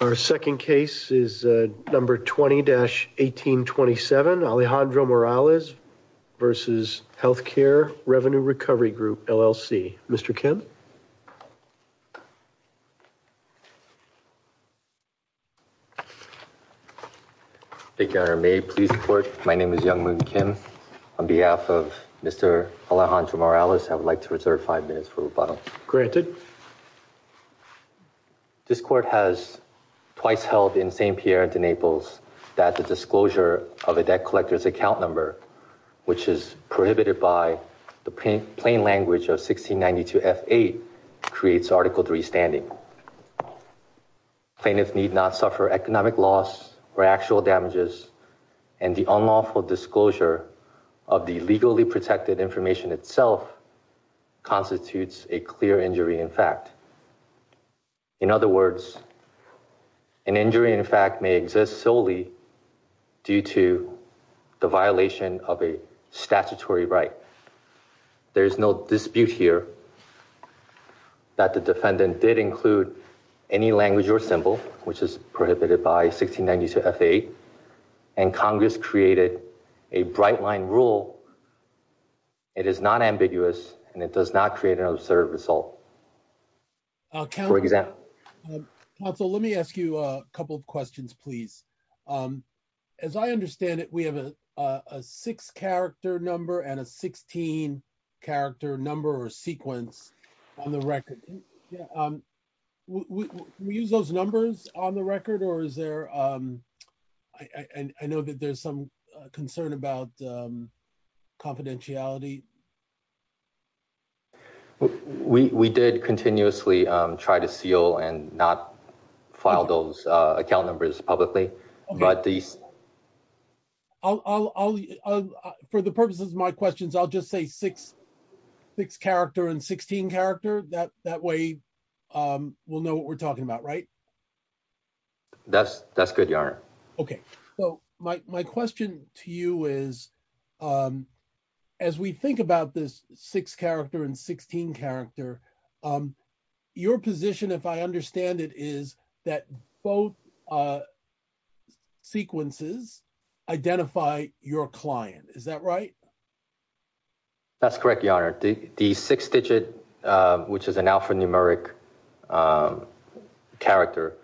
Our second case is number 20-1827 Alejandro Morales versus Healthcare Revenue Recovery Group LLC. Mr. Kim Thank you, may I please report my name is Young Moon Kim on behalf of Mr. Alejandro Morales I would like to reserve five minutes for rebuttal. Granted This court has twice held in St. Pierre de Naples that the disclosure of a debt collector's account number, which is prohibited by the plain language of 1692 F8, creates Article 3 standing. Plaintiffs need not suffer economic loss or actual damages and the unlawful disclosure of the legally protected information itself constitutes a clear injury in fact. In other words, an injury in fact may exist solely due to the violation of a statutory right. There's no dispute here that the defendant did include any language or symbol which is prohibited by 1692 F8 and Congress created a bright line rule. It is not ambiguous and it does not create an absurd result. Council, let me ask you a couple of questions, please. As I understand it, we have a six character number and a 16 character number or sequence on the record. We use those numbers on the record? I know that there's some concern about confidentiality. We did continuously try to seal and not file those account numbers publicly. For the purposes of my questions, I'll just say six character and 16 character. That way we'll know what we're talking about, right? That's good, Your Honor. Okay. My question to you is, as we think about this six character and 16 character, your position, if I understand it, is that both sequences identify your client. Is that right? That's correct, Your Honor. The six digit, which is an alphanumeric character,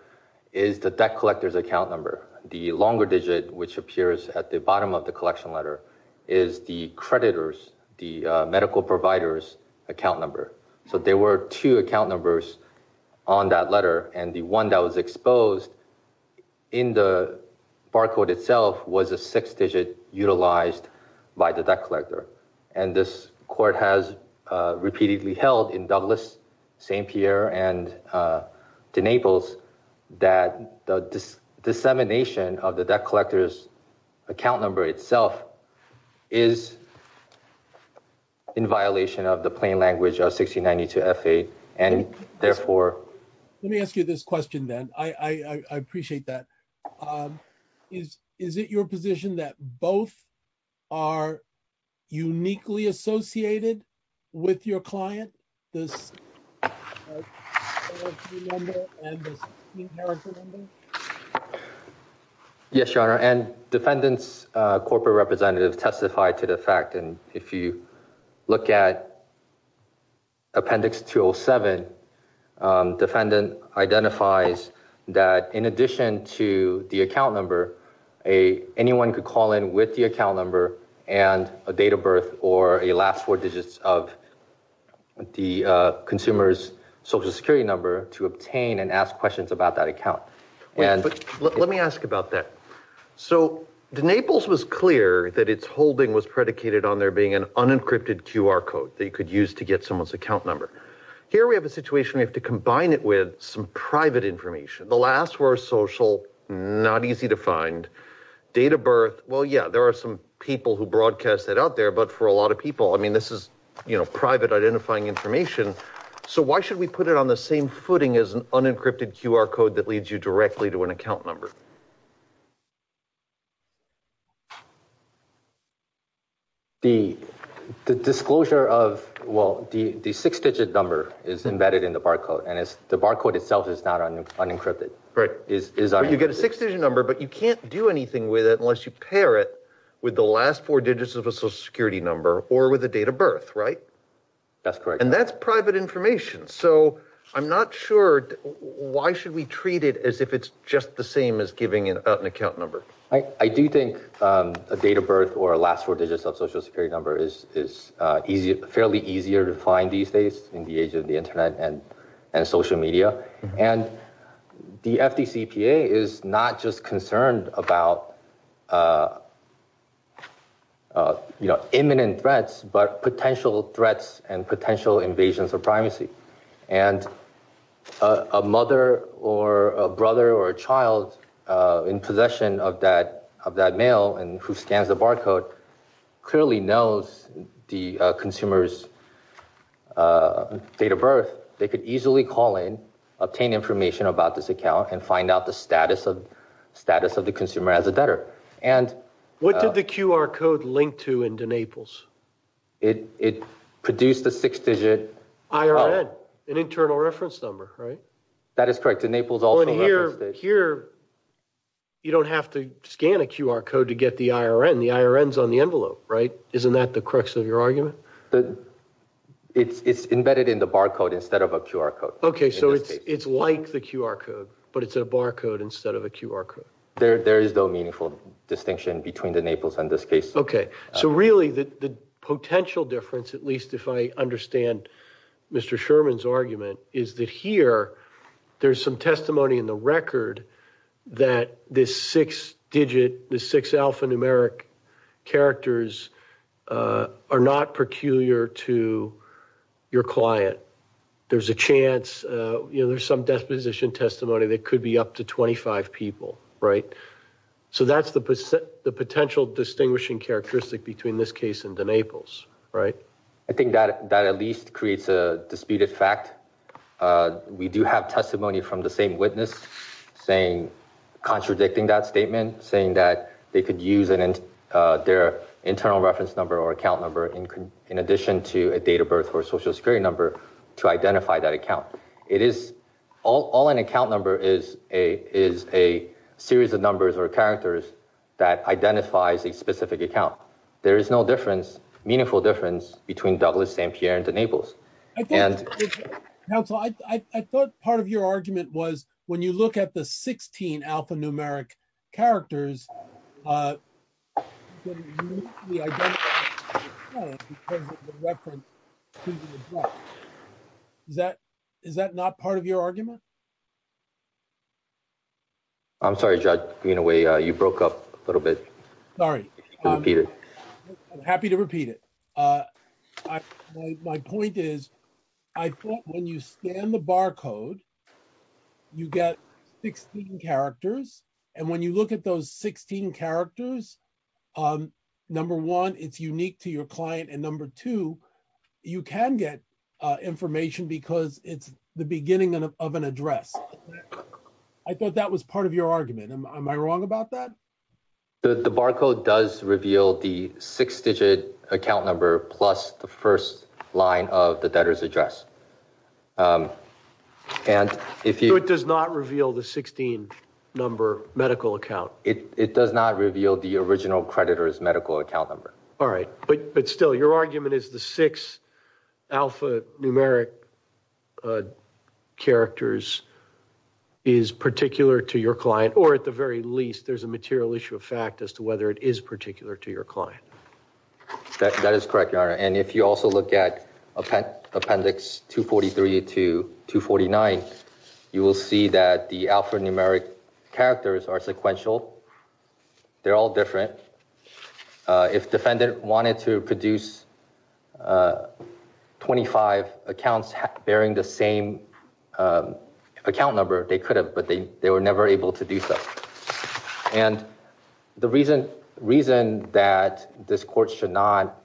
is the debt collector's account number. The longer digit, which appears at the bottom of the collection letter, is the creditor's, the medical provider's account number. So there were two account numbers on that letter and the one that was exposed in the barcode itself was a six digit utilized by the debt collector. And this court has repeatedly held in Douglas, St. Pierre, and Naples that the dissemination of the debt collector's account number itself is in violation of the plain language of 1692 F8 and therefore... Let me ask you this question then. I appreciate that. Is it your position that both are uniquely associated with your client, this... Yes, Your Honor. And defendant's corporate representative testified to the fact and if you look at Appendix 207, defendant identifies that in addition to the account number, anyone could call in with the account number and a date of birth or a last four digits of the consumer's social security number to obtain and ask questions about that account. But let me ask about that. So Naples was clear that its holding was predicated on there being an unencrypted QR code that you could use to get someone's account number. Here we have a situation we have to combine it with some private information. The last four social, not easy to find, date of birth. Well, yeah, there are some people who broadcast that out there, but for a lot of people, I mean, this is, you know, private identifying information. So why should we put it on the same footing as an unencrypted QR code that leads you directly to an account number? The disclosure of, well, the six digit number is embedded in the barcode and the barcode itself is not unencrypted. Right. You get a six digit number, but you can't do anything with it unless you pair it with the last four digits of a social security number or with a date of birth, right? That's correct. And that's private information. So I'm not sure, why should we treat it as if it's just the same as giving an account number? I do think a date of birth or a last four digits of social security number is fairly easier to find these days in the age of the internet and social media. And the FDCPA is not just concerned about, you know, imminent threats, but potential threats and potential invasions of privacy. And a mother or a brother or a child in possession of that mail and who scans the barcode clearly knows the consumer's date of birth. They could easily call in, obtain information about this account and find out the status of the consumer as a debtor. What did the QR code link to in Denaples? It produced a six digit IRN, an internal reference number, right? That is correct. Here you don't have to scan a QR code to get the IRN. The IRN is on the envelope, right? Isn't that the crux of your argument? It's embedded in the barcode instead of a QR code. Okay, so it's like the QR code, but it's a barcode instead of a QR code. There is no meaningful distinction between the Naples and this case. Okay, so really the potential difference, at least if I understand Mr. Sherman's argument, is that here there's some testimony in the record that this six digit, the six alphanumeric characters are not peculiar to your client. There's a chance, you know, there's some disposition testimony that could be up to 25 people, right? So that's the potential distinguishing characteristic between this case and Denaples, right? I think that at least creates a disputed fact. We do have testimony from the same witness saying, contradicting that statement, saying that they could use their internal reference number or account number in addition to a date of birth or social security number to identify that account. All an account number is a series of numbers or characters that identifies a specific account. There is no difference, meaningful difference, between Douglas, St. Pierre, and the Naples. Counsel, I thought part of your argument was when you look at the 16 alphanumeric characters, I'm sorry, Judge Greenaway, you broke up a little bit. Sorry, I'm happy to repeat it. My point is, I thought when you scan the barcode, you get 16 characters. And when you look at those 16 characters, number one, it's unique to your client. And number two, you can get information because it's the beginning of an address. I thought that was part of your argument. Am I wrong about that? The barcode does reveal the six-digit account number plus the first line of the debtor's address. So it does not reveal the 16-number medical account? It does not reveal the original creditor's medical account number. All right. But still, your argument is the six alphanumeric characters is particular to your client, or at the very least, there's a material issue of fact as to whether it is particular to your client. That is correct, Your Honor. And if you also look at Appendix 243 to 249, you will see that the alphanumeric characters are sequential. They're all different. If defendant wanted to produce 25 accounts bearing the same account number, they could have, but they were never able to do so. And the reason that this Court should not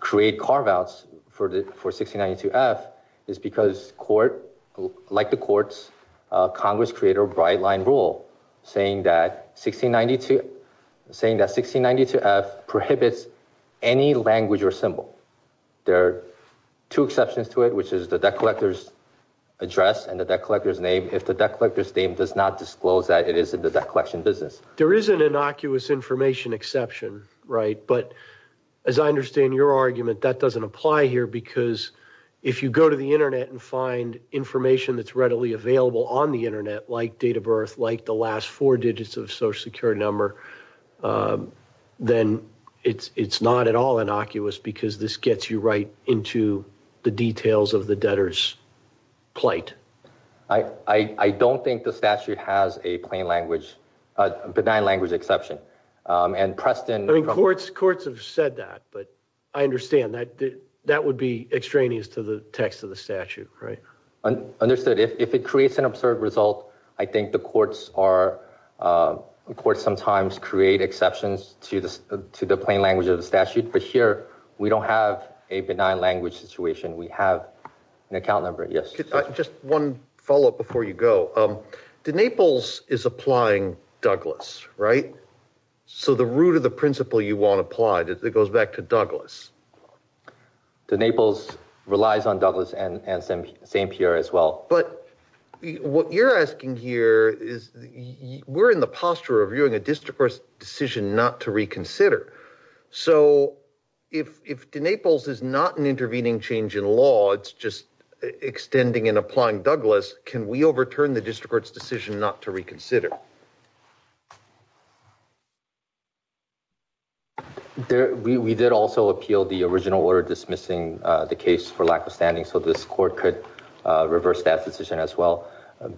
create carve-outs for 1692-F is because court, like the courts, Congress created a bright-line rule saying that 1692-F prohibits any language or symbol. There are two exceptions to it, which is the debt collector's address and the debt collector's name, if the debt collector's name does not disclose that it is in the debt collection business. There is an innocuous information exception, right? But as I understand your argument, that doesn't apply here because if you go to the Internet and find information that's readily available on the Internet, like date of birth, like the last four digits of social security number, then it's not at all innocuous because this gets you right into the details of the debtor's plight. I don't think the statute has a benign language exception. And Preston— Courts have said that, but I understand that would be extraneous to the text of the statute, right? Understood. If it creates an absurd result, I think the courts are—courts sometimes create exceptions to the plain language of the statute. But here, we don't have a benign language situation. We have an account number. Yes. Just one follow-up before you go. De Naples is applying Douglas, right? So the root of the principle you want applied, it goes back to Douglas. De Naples relies on Douglas and St. Pierre as well. But what you're asking here is we're in the posture of viewing a district court's decision not to reconsider. So if De Naples is not an intervening change in law, it's just extending and applying Douglas, can we overturn the district court's decision not to reconsider? We did also appeal the original order dismissing the case for lack of standing so this court could reverse that decision as well.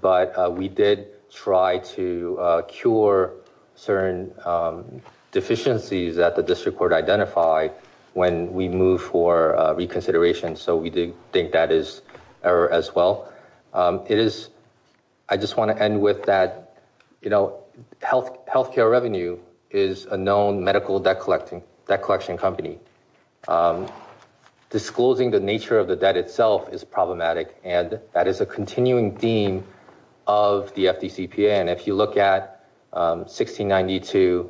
But we did try to cure certain deficiencies that the district identified when we moved for reconsideration. So we do think that is error as well. I just want to end with that, you know, health care revenue is a known medical debt collection company. Disclosing the nature of the debt itself is problematic and that is a continuing theme of the FDCPA. And if you look at 1692B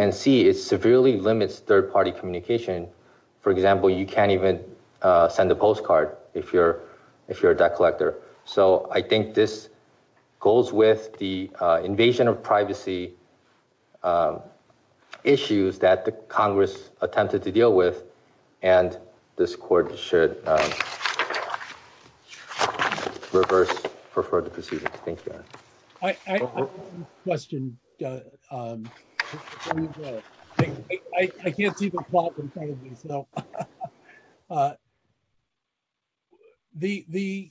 and C, it severely limits third-party communication. For example, you can't even send a postcard if you're a debt collector. So I think this goes with the invasion of privacy issues that Congress attempted to deal with and this court should reverse the proceedings. Thank you. I have a question. I can't see the plot in front of me. So the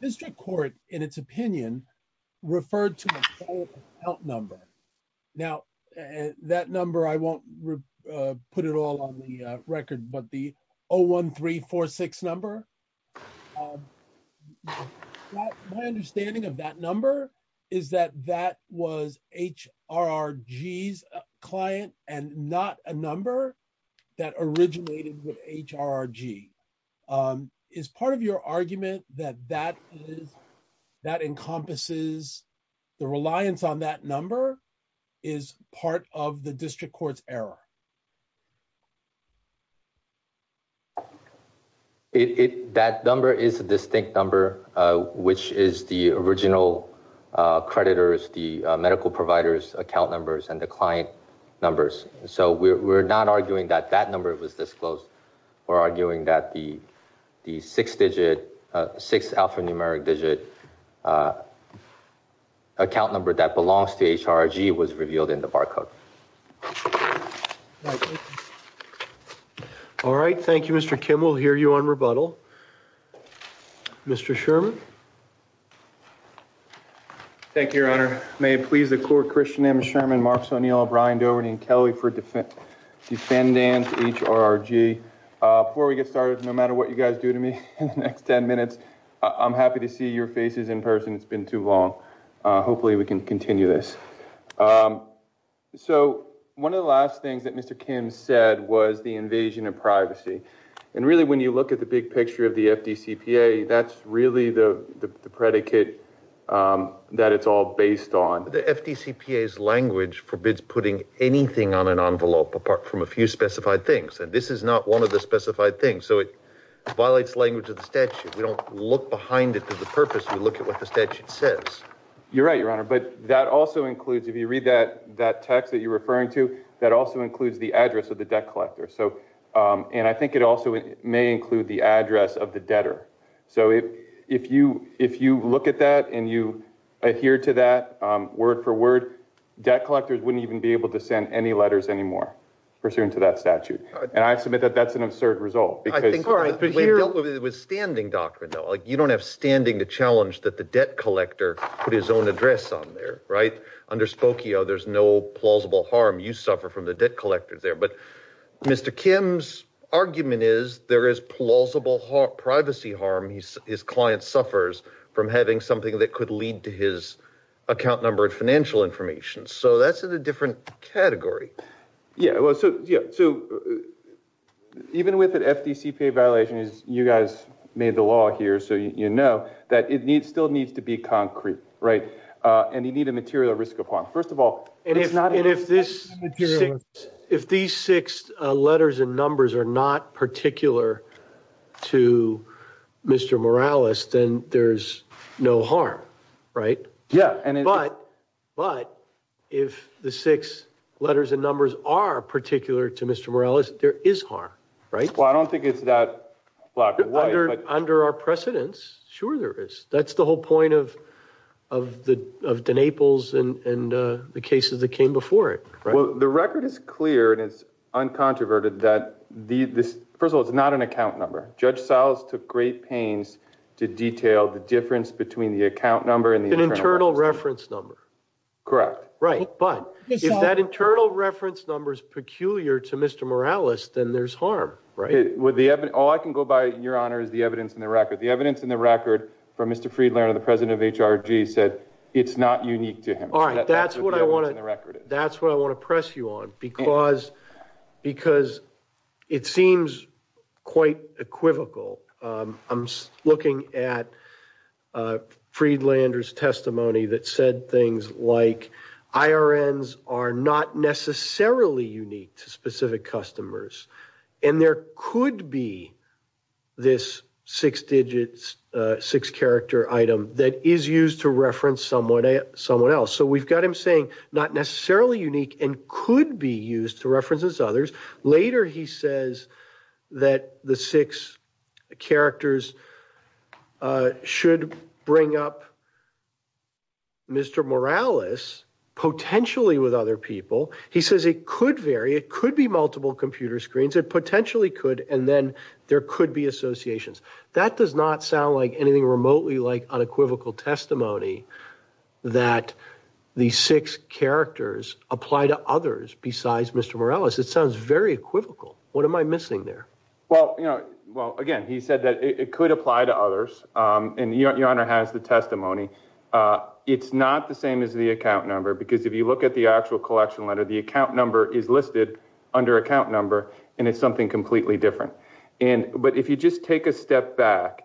district court, in its opinion, referred to a 01346 number. My understanding of that number is that that was HRRG's client and not a number that originated with HRRG. Is part of your argument that that encompasses the reliance on that number is part of the district court's error? It that number is a distinct number, which is the original creditors, the medical providers, account numbers, and the client numbers. So we're not arguing that that number was disclosed. We're arguing that the six digit, six alphanumeric digit account number that belongs to HRRG was revealed in the barcode. All right. Thank you, Mr. Kimmel. Hear you on rebuttal. Mr. Sherman. Thank you, Your Honor. May it please the court, Christian M. Sherman, Mark Soniel, Brian Doherty, and Kelly for defendants, HRRG. Before we get started, no matter what you guys do to me in the next 10 minutes, I'm happy to see your faces in person. It's been too long. Hopefully we can continue this. So one of the last things that Mr. Kim said was the invasion of privacy. And really when you look at the big picture of the FDCPA, that's really the predicate that it's all based on. The FDCPA's language forbids putting anything on an envelope apart from a few specified things. And this is not one of the specified things. So it violates language of the statute. We don't look behind it for the purpose, we look at what the statute says. You're right, Your Honor. But that also includes, if you read that text that you're referring to, that also includes the address of the debt collector. And I think it also may include the address of the debtor. So if you look at that and you adhere to that word for word, debt collectors wouldn't even be able to send any letters anymore pursuant to that statute. And I submit that that's an absurd result. We dealt with standing doctrine, though. You don't have standing to challenge that the debt collector put his own address on there, right? Under Spokio, there's no plausible harm. You suffer from the debt collectors there. But Mr. Kim's argument is there is plausible privacy harm his client suffers from having something that could lead to his account number and financial information. So that's in a different category. Yeah, well, so yeah, so even with an FDC pay violation, as you guys made the law here, so you know that it needs still needs to be concrete, right? And you need a material risk of harm. First of all, and if not, and if this if these six letters and numbers are not particular to Mr. Morales, then there's no harm, right? Yeah. But if the six letters and numbers are particular to Mr. Morales, there is harm, right? Well, I don't think it's that under our precedence. Sure, there is. That's the whole point of the Naples and the cases that came before it. Well, the record is clear and it's uncontroverted that the first of all, it's not an account number. Judge Siles took great pains to detail the difference between the account number and the internal reference number. Correct. Right. But if that internal reference number is peculiar to Mr. Morales, then there's harm, right? All I can go by in your honor is the evidence in the record. The evidence in the record from Mr. Friedlander, the president of HRG said it's not unique to him. All right. That's what I want to press you on because it seems quite equivocal. We're looking at Friedlander's testimony that said things like IRNs are not necessarily unique to specific customers and there could be this six digits, six character item that is used to reference someone else. So we've got him saying not necessarily unique and could be used to reference others. Later he says that the six characters should bring up Mr. Morales potentially with other people. He says it could vary. It could be multiple computer screens. It potentially could. And then there could be associations. That does not sound like anything remotely like unequivocal testimony that the six characters apply to others besides Mr. Morales. It sounds very equivocal. What am I missing there? Well, again, he said that it could apply to others and your honor has the testimony. It's not the same as the account number because if you look at the actual collection letter, the account number is listed under account number and it's something completely different. But if you just take a step back,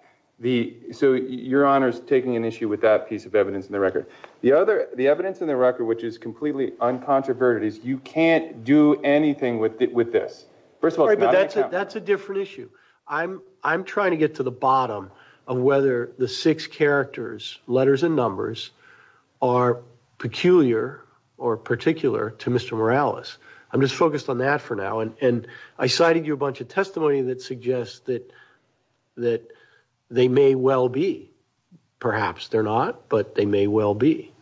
so your honor's taking an issue with that piece of evidence in the record. The evidence in the record which is completely uncontroverted is you can't do anything with this. First of all, that's a different issue. I'm trying to get to the bottom of whether the six characters, letters and numbers, are peculiar or particular to Mr. Morales. I'm just focused on that for now and I cited you a bunch of testimony that suggests that that they may well be. Perhaps they're not, but they may well be.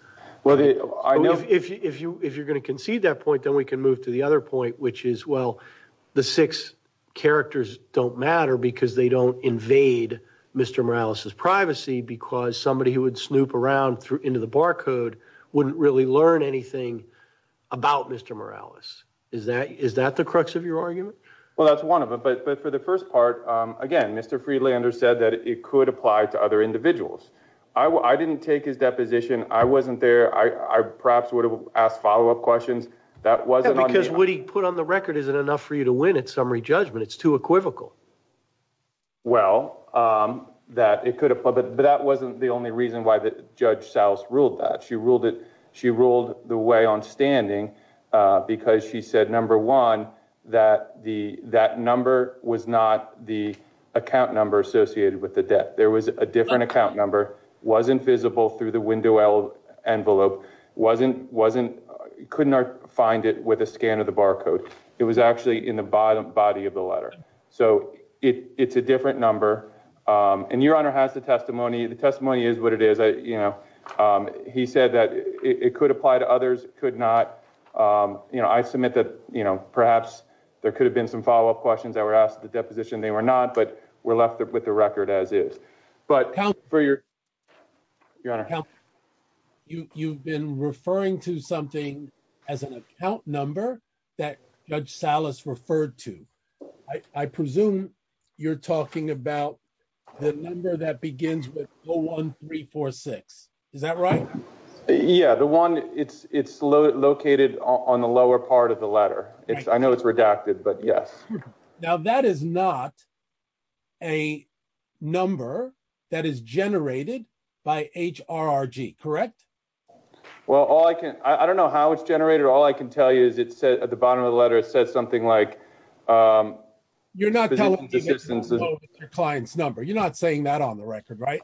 If you're going to concede that point, then we can move to the other point which is, well, the six characters don't matter because they don't invade Mr. Morales's privacy because somebody who would snoop around through into the barcode wouldn't really learn anything about Mr. Morales. Is that the crux of your argument? Well, that's one of them, but for the first part, again, Mr. Friedlander said that it could apply to other individuals. I didn't take his deposition. I wasn't there. I perhaps asked follow-up questions. Because what he put on the record isn't enough for you to win at summary judgment. It's too equivocal. Well, that it could apply, but that wasn't the only reason why Judge Salas ruled that. She ruled the way on standing because she said, number one, that that number was not the account number associated with the debt. There was a different account number, wasn't visible through the window envelope, couldn't find it with a scan of the barcode. It was actually in the body of the letter. So it's a different number. And your Honor has the testimony. The testimony is what it is. He said that it could apply to others, it could not. I submit that perhaps there could have been some follow-up questions that were your Your Honor. You've been referring to something as an account number that Judge Salas referred to. I presume you're talking about the number that begins with 01346. Is that right? Yeah, the one it's located on the lower part of the letter. I know it's redacted, but yes. Now, that is not a number that is generated by HRRG, correct? Well, all I can I don't know how it's generated. All I can tell you is it said at the bottom of the letter, it says something like you're not telling your client's number. You're not saying that on the record, right?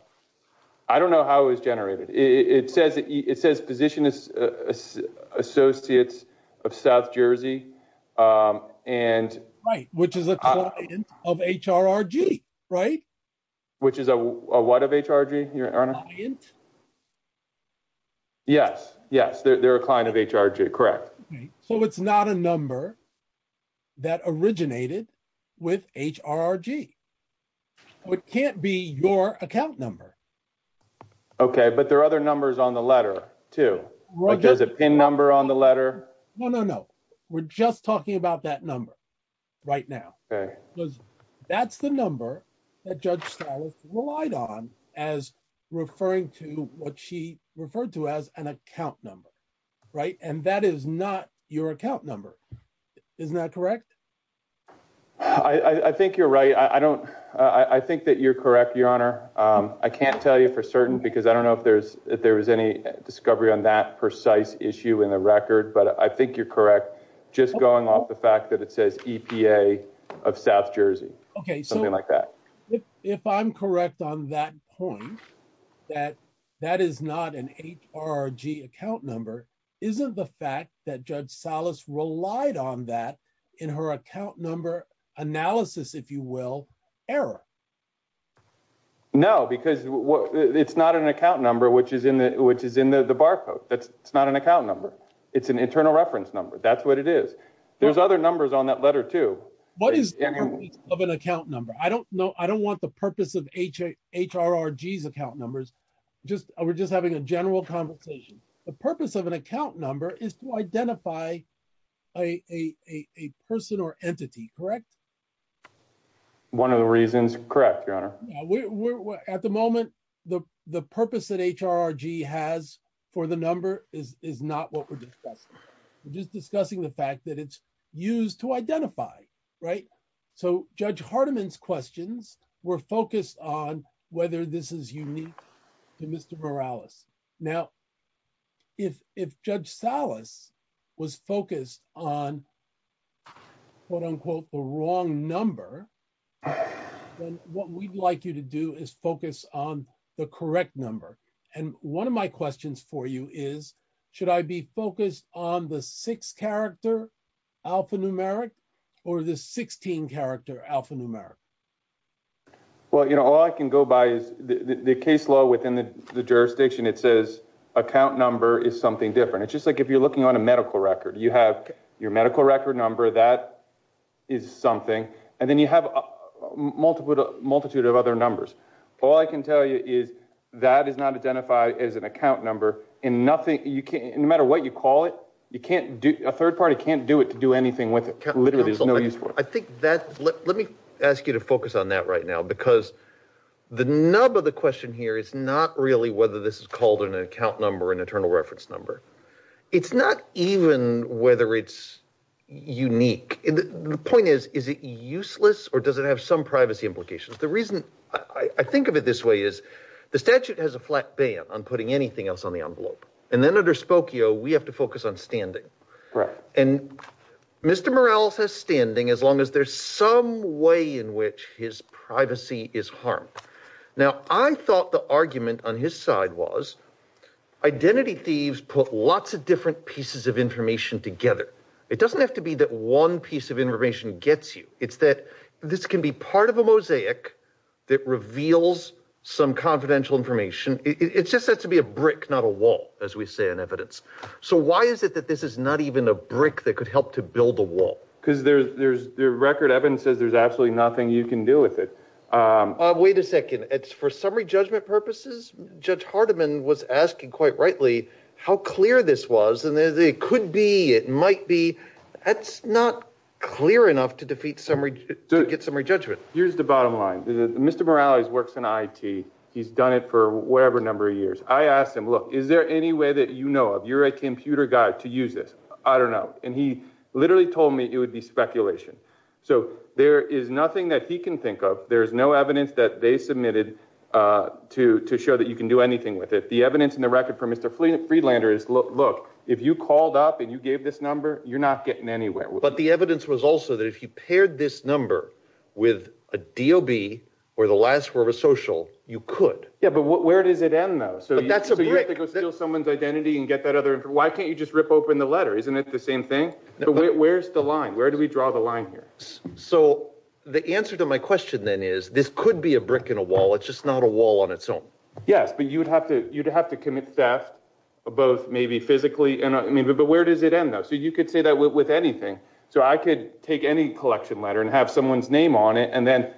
I don't know how it was generated. It says it says position is Associates of South Jersey. Right, which is a client of HRRG, right? Which is a what of HRG, Your Honor? Yes, yes, they're a client of HRG, correct. So it's not a number that originated with HRRG. It can't be your account number. Okay, but there are other numbers on the letter, too. There's a pin number on the letter. No, no, no. We're just talking about that number right now, because that's the number that Judge Stiles relied on as referring to what she referred to as an account number, right? And that is not your account number. Isn't that correct? I think you're right. I don't I think that you're correct, Your Honor. I can't tell you because I don't know if there's if there was any discovery on that precise issue in the record, but I think you're correct. Just going off the fact that it says EPA of South Jersey. Okay, something like that. If I'm correct on that point, that that is not an HRG account number, isn't the fact that Judge Stiles relied on that in her account number analysis, if you will, error? No, because it's not an account number, which is in the barcode. That's not an account number. It's an internal reference number. That's what it is. There's other numbers on that letter, too. What is the purpose of an account number? I don't know. I don't want the purpose of HRRG's account numbers. We're just having a general conversation. The purpose of an account number is to identify a person or entity, correct? One of the reasons. Correct, Your Honor. At the moment, the purpose that HRRG has for the number is not what we're discussing. We're just discussing the fact that it's used to identify, right? So Judge Hardiman's questions were focused on whether this is unique to Mr. Morales. Now, if Judge Stiles was focused on, quote unquote, the wrong number, then what we'd like you to do is focus on the correct number. And one of my questions for you is, should I be focused on the six-character alphanumeric or the 16-character alphanumeric? Well, you know, all I can go by is the case law within the jurisdiction. It says account number is something different. It's just like if you're a medical record. You have your medical record number. That is something. And then you have a multitude of other numbers. All I can tell you is that is not identified as an account number. No matter what you call it, a third party can't do it to do anything with it. Literally, there's no use for it. Let me ask you to focus on that right now because the nub of the question here is not really whether this is called an account number or an internal reference number. It's not even whether it's unique. The point is, is it useless or does it have some privacy implications? The reason I think of it this way is the statute has a flat ban on putting anything else on the envelope. And then under Spokio, we have to focus on standing. And Mr. Morales has standing as long as there's some way in which his privacy is harmed. Now, I thought the argument on his side was identity thieves put lots of different pieces of information together. It doesn't have to be that one piece of information gets you. It's that this can be part of a mosaic that reveals some confidential information. It's just said to be a brick, not a wall, as we say in evidence. So why is it that this is not even a brick that could help to build a wall? Because there's there's record evidence says there's absolutely nothing you can do with it. Wait a second. It's for summary judgment purposes. Judge Hardiman was asking quite rightly how clear this was. And it could be it might be that's not clear enough to defeat summary to get summary judgment. Here's the bottom line. Mr. Morales works in I.T. He's done it for whatever number of years. I asked him, look, is there any way that you know of you're a computer guy to use this? I don't know. And he literally told me it would be speculation. So there is nothing that he can think of. There is no evidence that they submitted to to show that you can do anything with it. The evidence in the record for Mr. Friedlander is, look, if you called up and you gave this number, you're not getting anywhere. But the evidence was also that if you paired this number with a D.O.B. or the last word of social, you could. Yeah, but where does it end, though? So that's a big deal. Someone's identity and get that other. Why can't you just rip open the letter? Isn't it the same thing? Where's the line? Where do we draw the line here? So the answer to my question, then, is this could be a brick in a wall. It's just not a wall on its own. Yes. But you would have to you'd have to commit theft, both maybe physically and I mean, but where does it end, though? So you could say that with anything. So I could take any collection letter and have someone's name on it. And then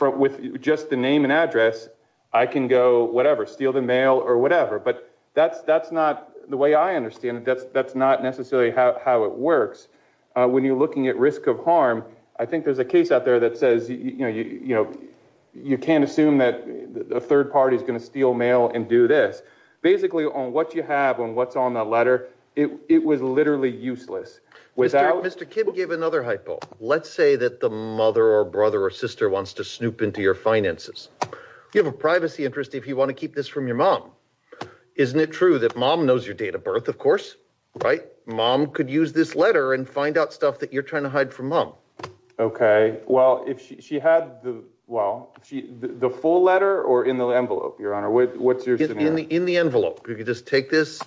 with just the name and address, I can go whatever, steal the mail or whatever. But that's that's not the way I understand it. That's that's not necessarily how it works when you're looking at risk of harm. I think there's a case out there that says, you know, you know, you can't assume that a third party is going to steal mail and do this basically on what you have on what's on the letter. It was literally useless without Mr. Kim gave another hypo. Let's say that the mother or brother or sister wants to snoop into your finances, give a privacy interest if you want to keep this from your mom. Isn't it true that mom knows your date of birth? Of course. Right. Mom could use this letter and find out stuff that you're trying to hide from mom. OK, well, if she had the well, the full letter or in the envelope, your honor, what's your in the in the envelope? You could just take this.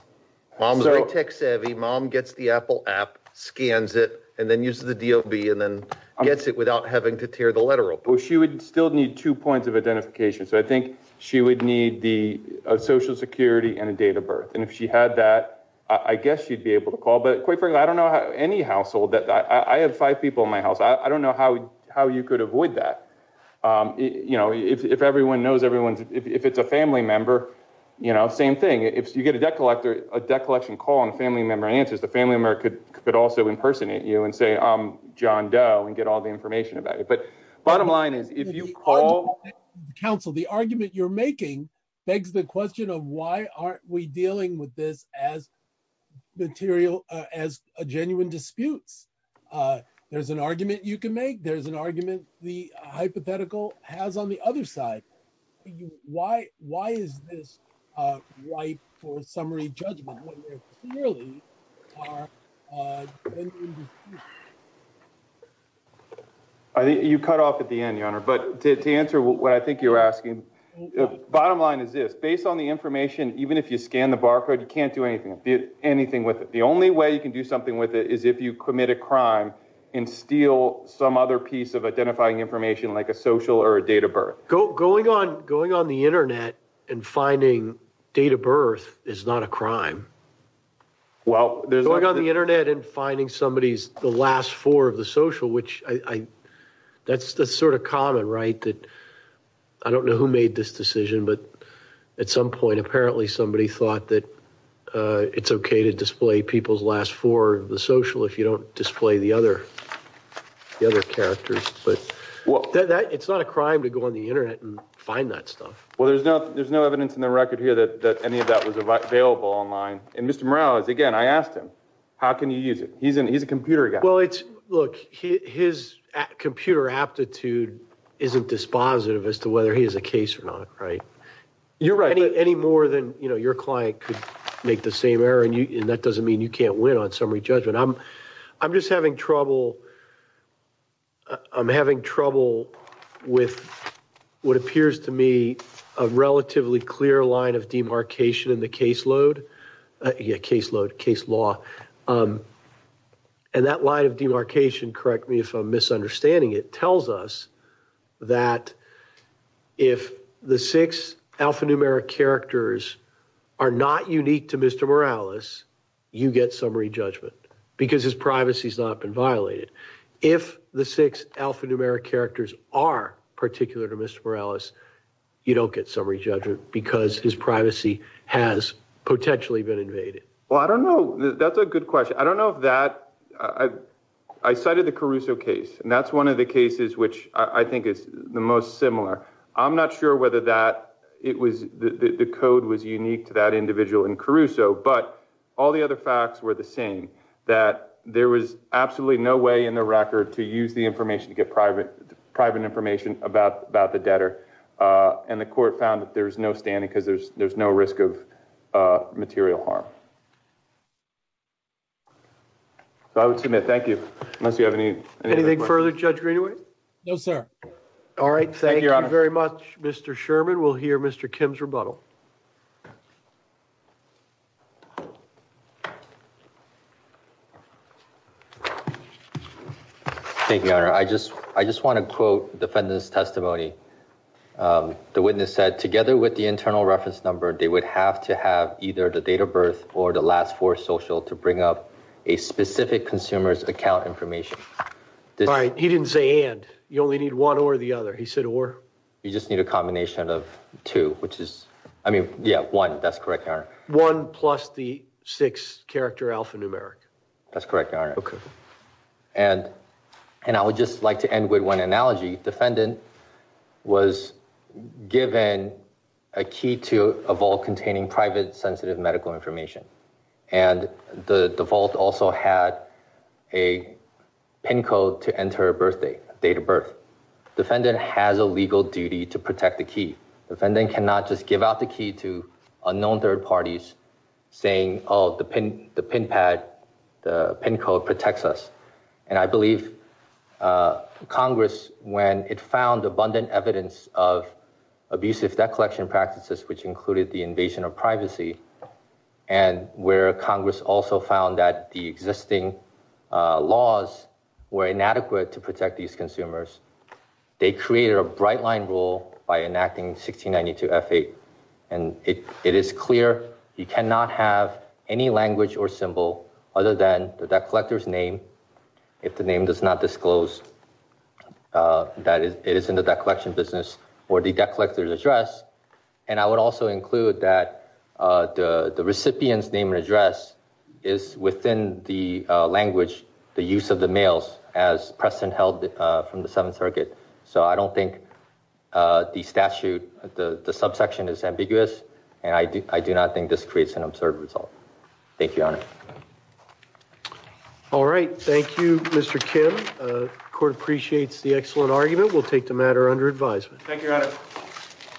Mom's a tech savvy. Mom gets the Apple app, scans it and then uses the DOB and then gets it without having to tear the letter. Well, she would still need two points of identification. So I think she would need the Social Security and a date of birth. And if she had that, I guess she'd be able to call. But quite frankly, I don't know any household that I have five people in my house. I don't know how how you could avoid that. You know, if everyone knows everyone's if it's a family member, you know, same thing. If you get a debt collector, a debt collection call and a family member answers, the family member could could also impersonate you and say, I'm about it. But bottom line is, if you call the council, the argument you're making begs the question of why aren't we dealing with this as material, as a genuine disputes? There's an argument you can make. There's an argument the hypothetical has on the other side. Why? Why is this right for summary judgment when there clearly are? You cut off at the end, your honor. But to answer what I think you're asking, bottom line is this. Based on the information, even if you scan the barcode, you can't do anything with it. The only way you can do something with it is if you commit a crime and steal some other piece of identifying information like a social or a date of birth. Going on going on the Internet and finding date of birth is not a crime. Well, there's going on the Internet and finding somebody's the last four of the social, which I that's that's sort of common, right? That I don't know who made this decision, but at some point, apparently somebody thought that it's OK to display people's last four of the social if you don't display the other the other characters. But that it's not a crime to go on the Internet and find that stuff. Well, there's no there's no evidence in the record here that any of that was available online. And Mr. Morales, again, I asked him, how can you use it? He's a computer guy. Well, it's look, his computer aptitude isn't dispositive as to whether he is a case or not. Right. You're right. Any more than your client could make the same error. And that doesn't mean you can't win on summary judgment. I'm I'm just having trouble. I'm having trouble with what appears to me a relatively clear line of demarcation in the caseload, a caseload case law. And that line of demarcation, correct me if I'm misunderstanding, it tells us that if the six alphanumeric characters are not unique to Mr. Morales, you get summary judgment because his privacy has not been violated. If the six alphanumeric characters are particular to Mr. Morales, you don't get summary judgment because his privacy has potentially been invaded. Well, I don't know. That's a good question. I don't know if that I cited the Caruso case. And that's one of the cases which I think is the most similar. I'm not sure whether that it was the code was unique to that individual in Caruso, but all the other facts were the same, that there was absolutely no way in the record to use the information to get private private information about about the debtor. And the court found that there's no standing because there's there's no risk of material harm. So I would submit, thank you. Unless you have any Anything further, Judge Greenaway? No, sir. All right. Thank you very much, Mr. Sherman. We'll hear Mr. Kim's rebuttal. Thank you, Your Honor. I just I just want to quote defendant's testimony. The witness said together with the internal reference number, they would have to have either the date of birth or the last four social to bring up a specific consumer's account information. All right. He didn't say and. You only need one or the other. He said or. You just need a combination of two, which is, I mean, yeah, one. That's correct, Your Honor. One plus the six character alphanumeric. That's correct, Your Honor. Okay. And and I would just like to end with one analogy. Defendant was given a key to a vault to enter a birthday date of birth. Defendant has a legal duty to protect the key. Defendant cannot just give out the key to unknown third parties saying, oh, the pin, the pin pad, the pin code protects us. And I believe Congress, when it found abundant evidence of abusive debt collection practices, which included the invasion of privacy and where Congress also found that the existing laws were inadequate to protect these consumers. They created a bright line rule by enacting 1692 F-8. And it is clear you cannot have any language or symbol other than the debt collector's name. If the name does not disclose that it is in the debt collection business or the debt collector's address is within the language, the use of the mails as Preston held from the Seventh Circuit. So I don't think the statute, the subsection is ambiguous and I do not think this creates an absurd result. Thank you, Your Honor. All right. Thank you, Mr. Kim. Court appreciates the excellent argument. We'll take the matter under advisement. Thank you, Your Honor.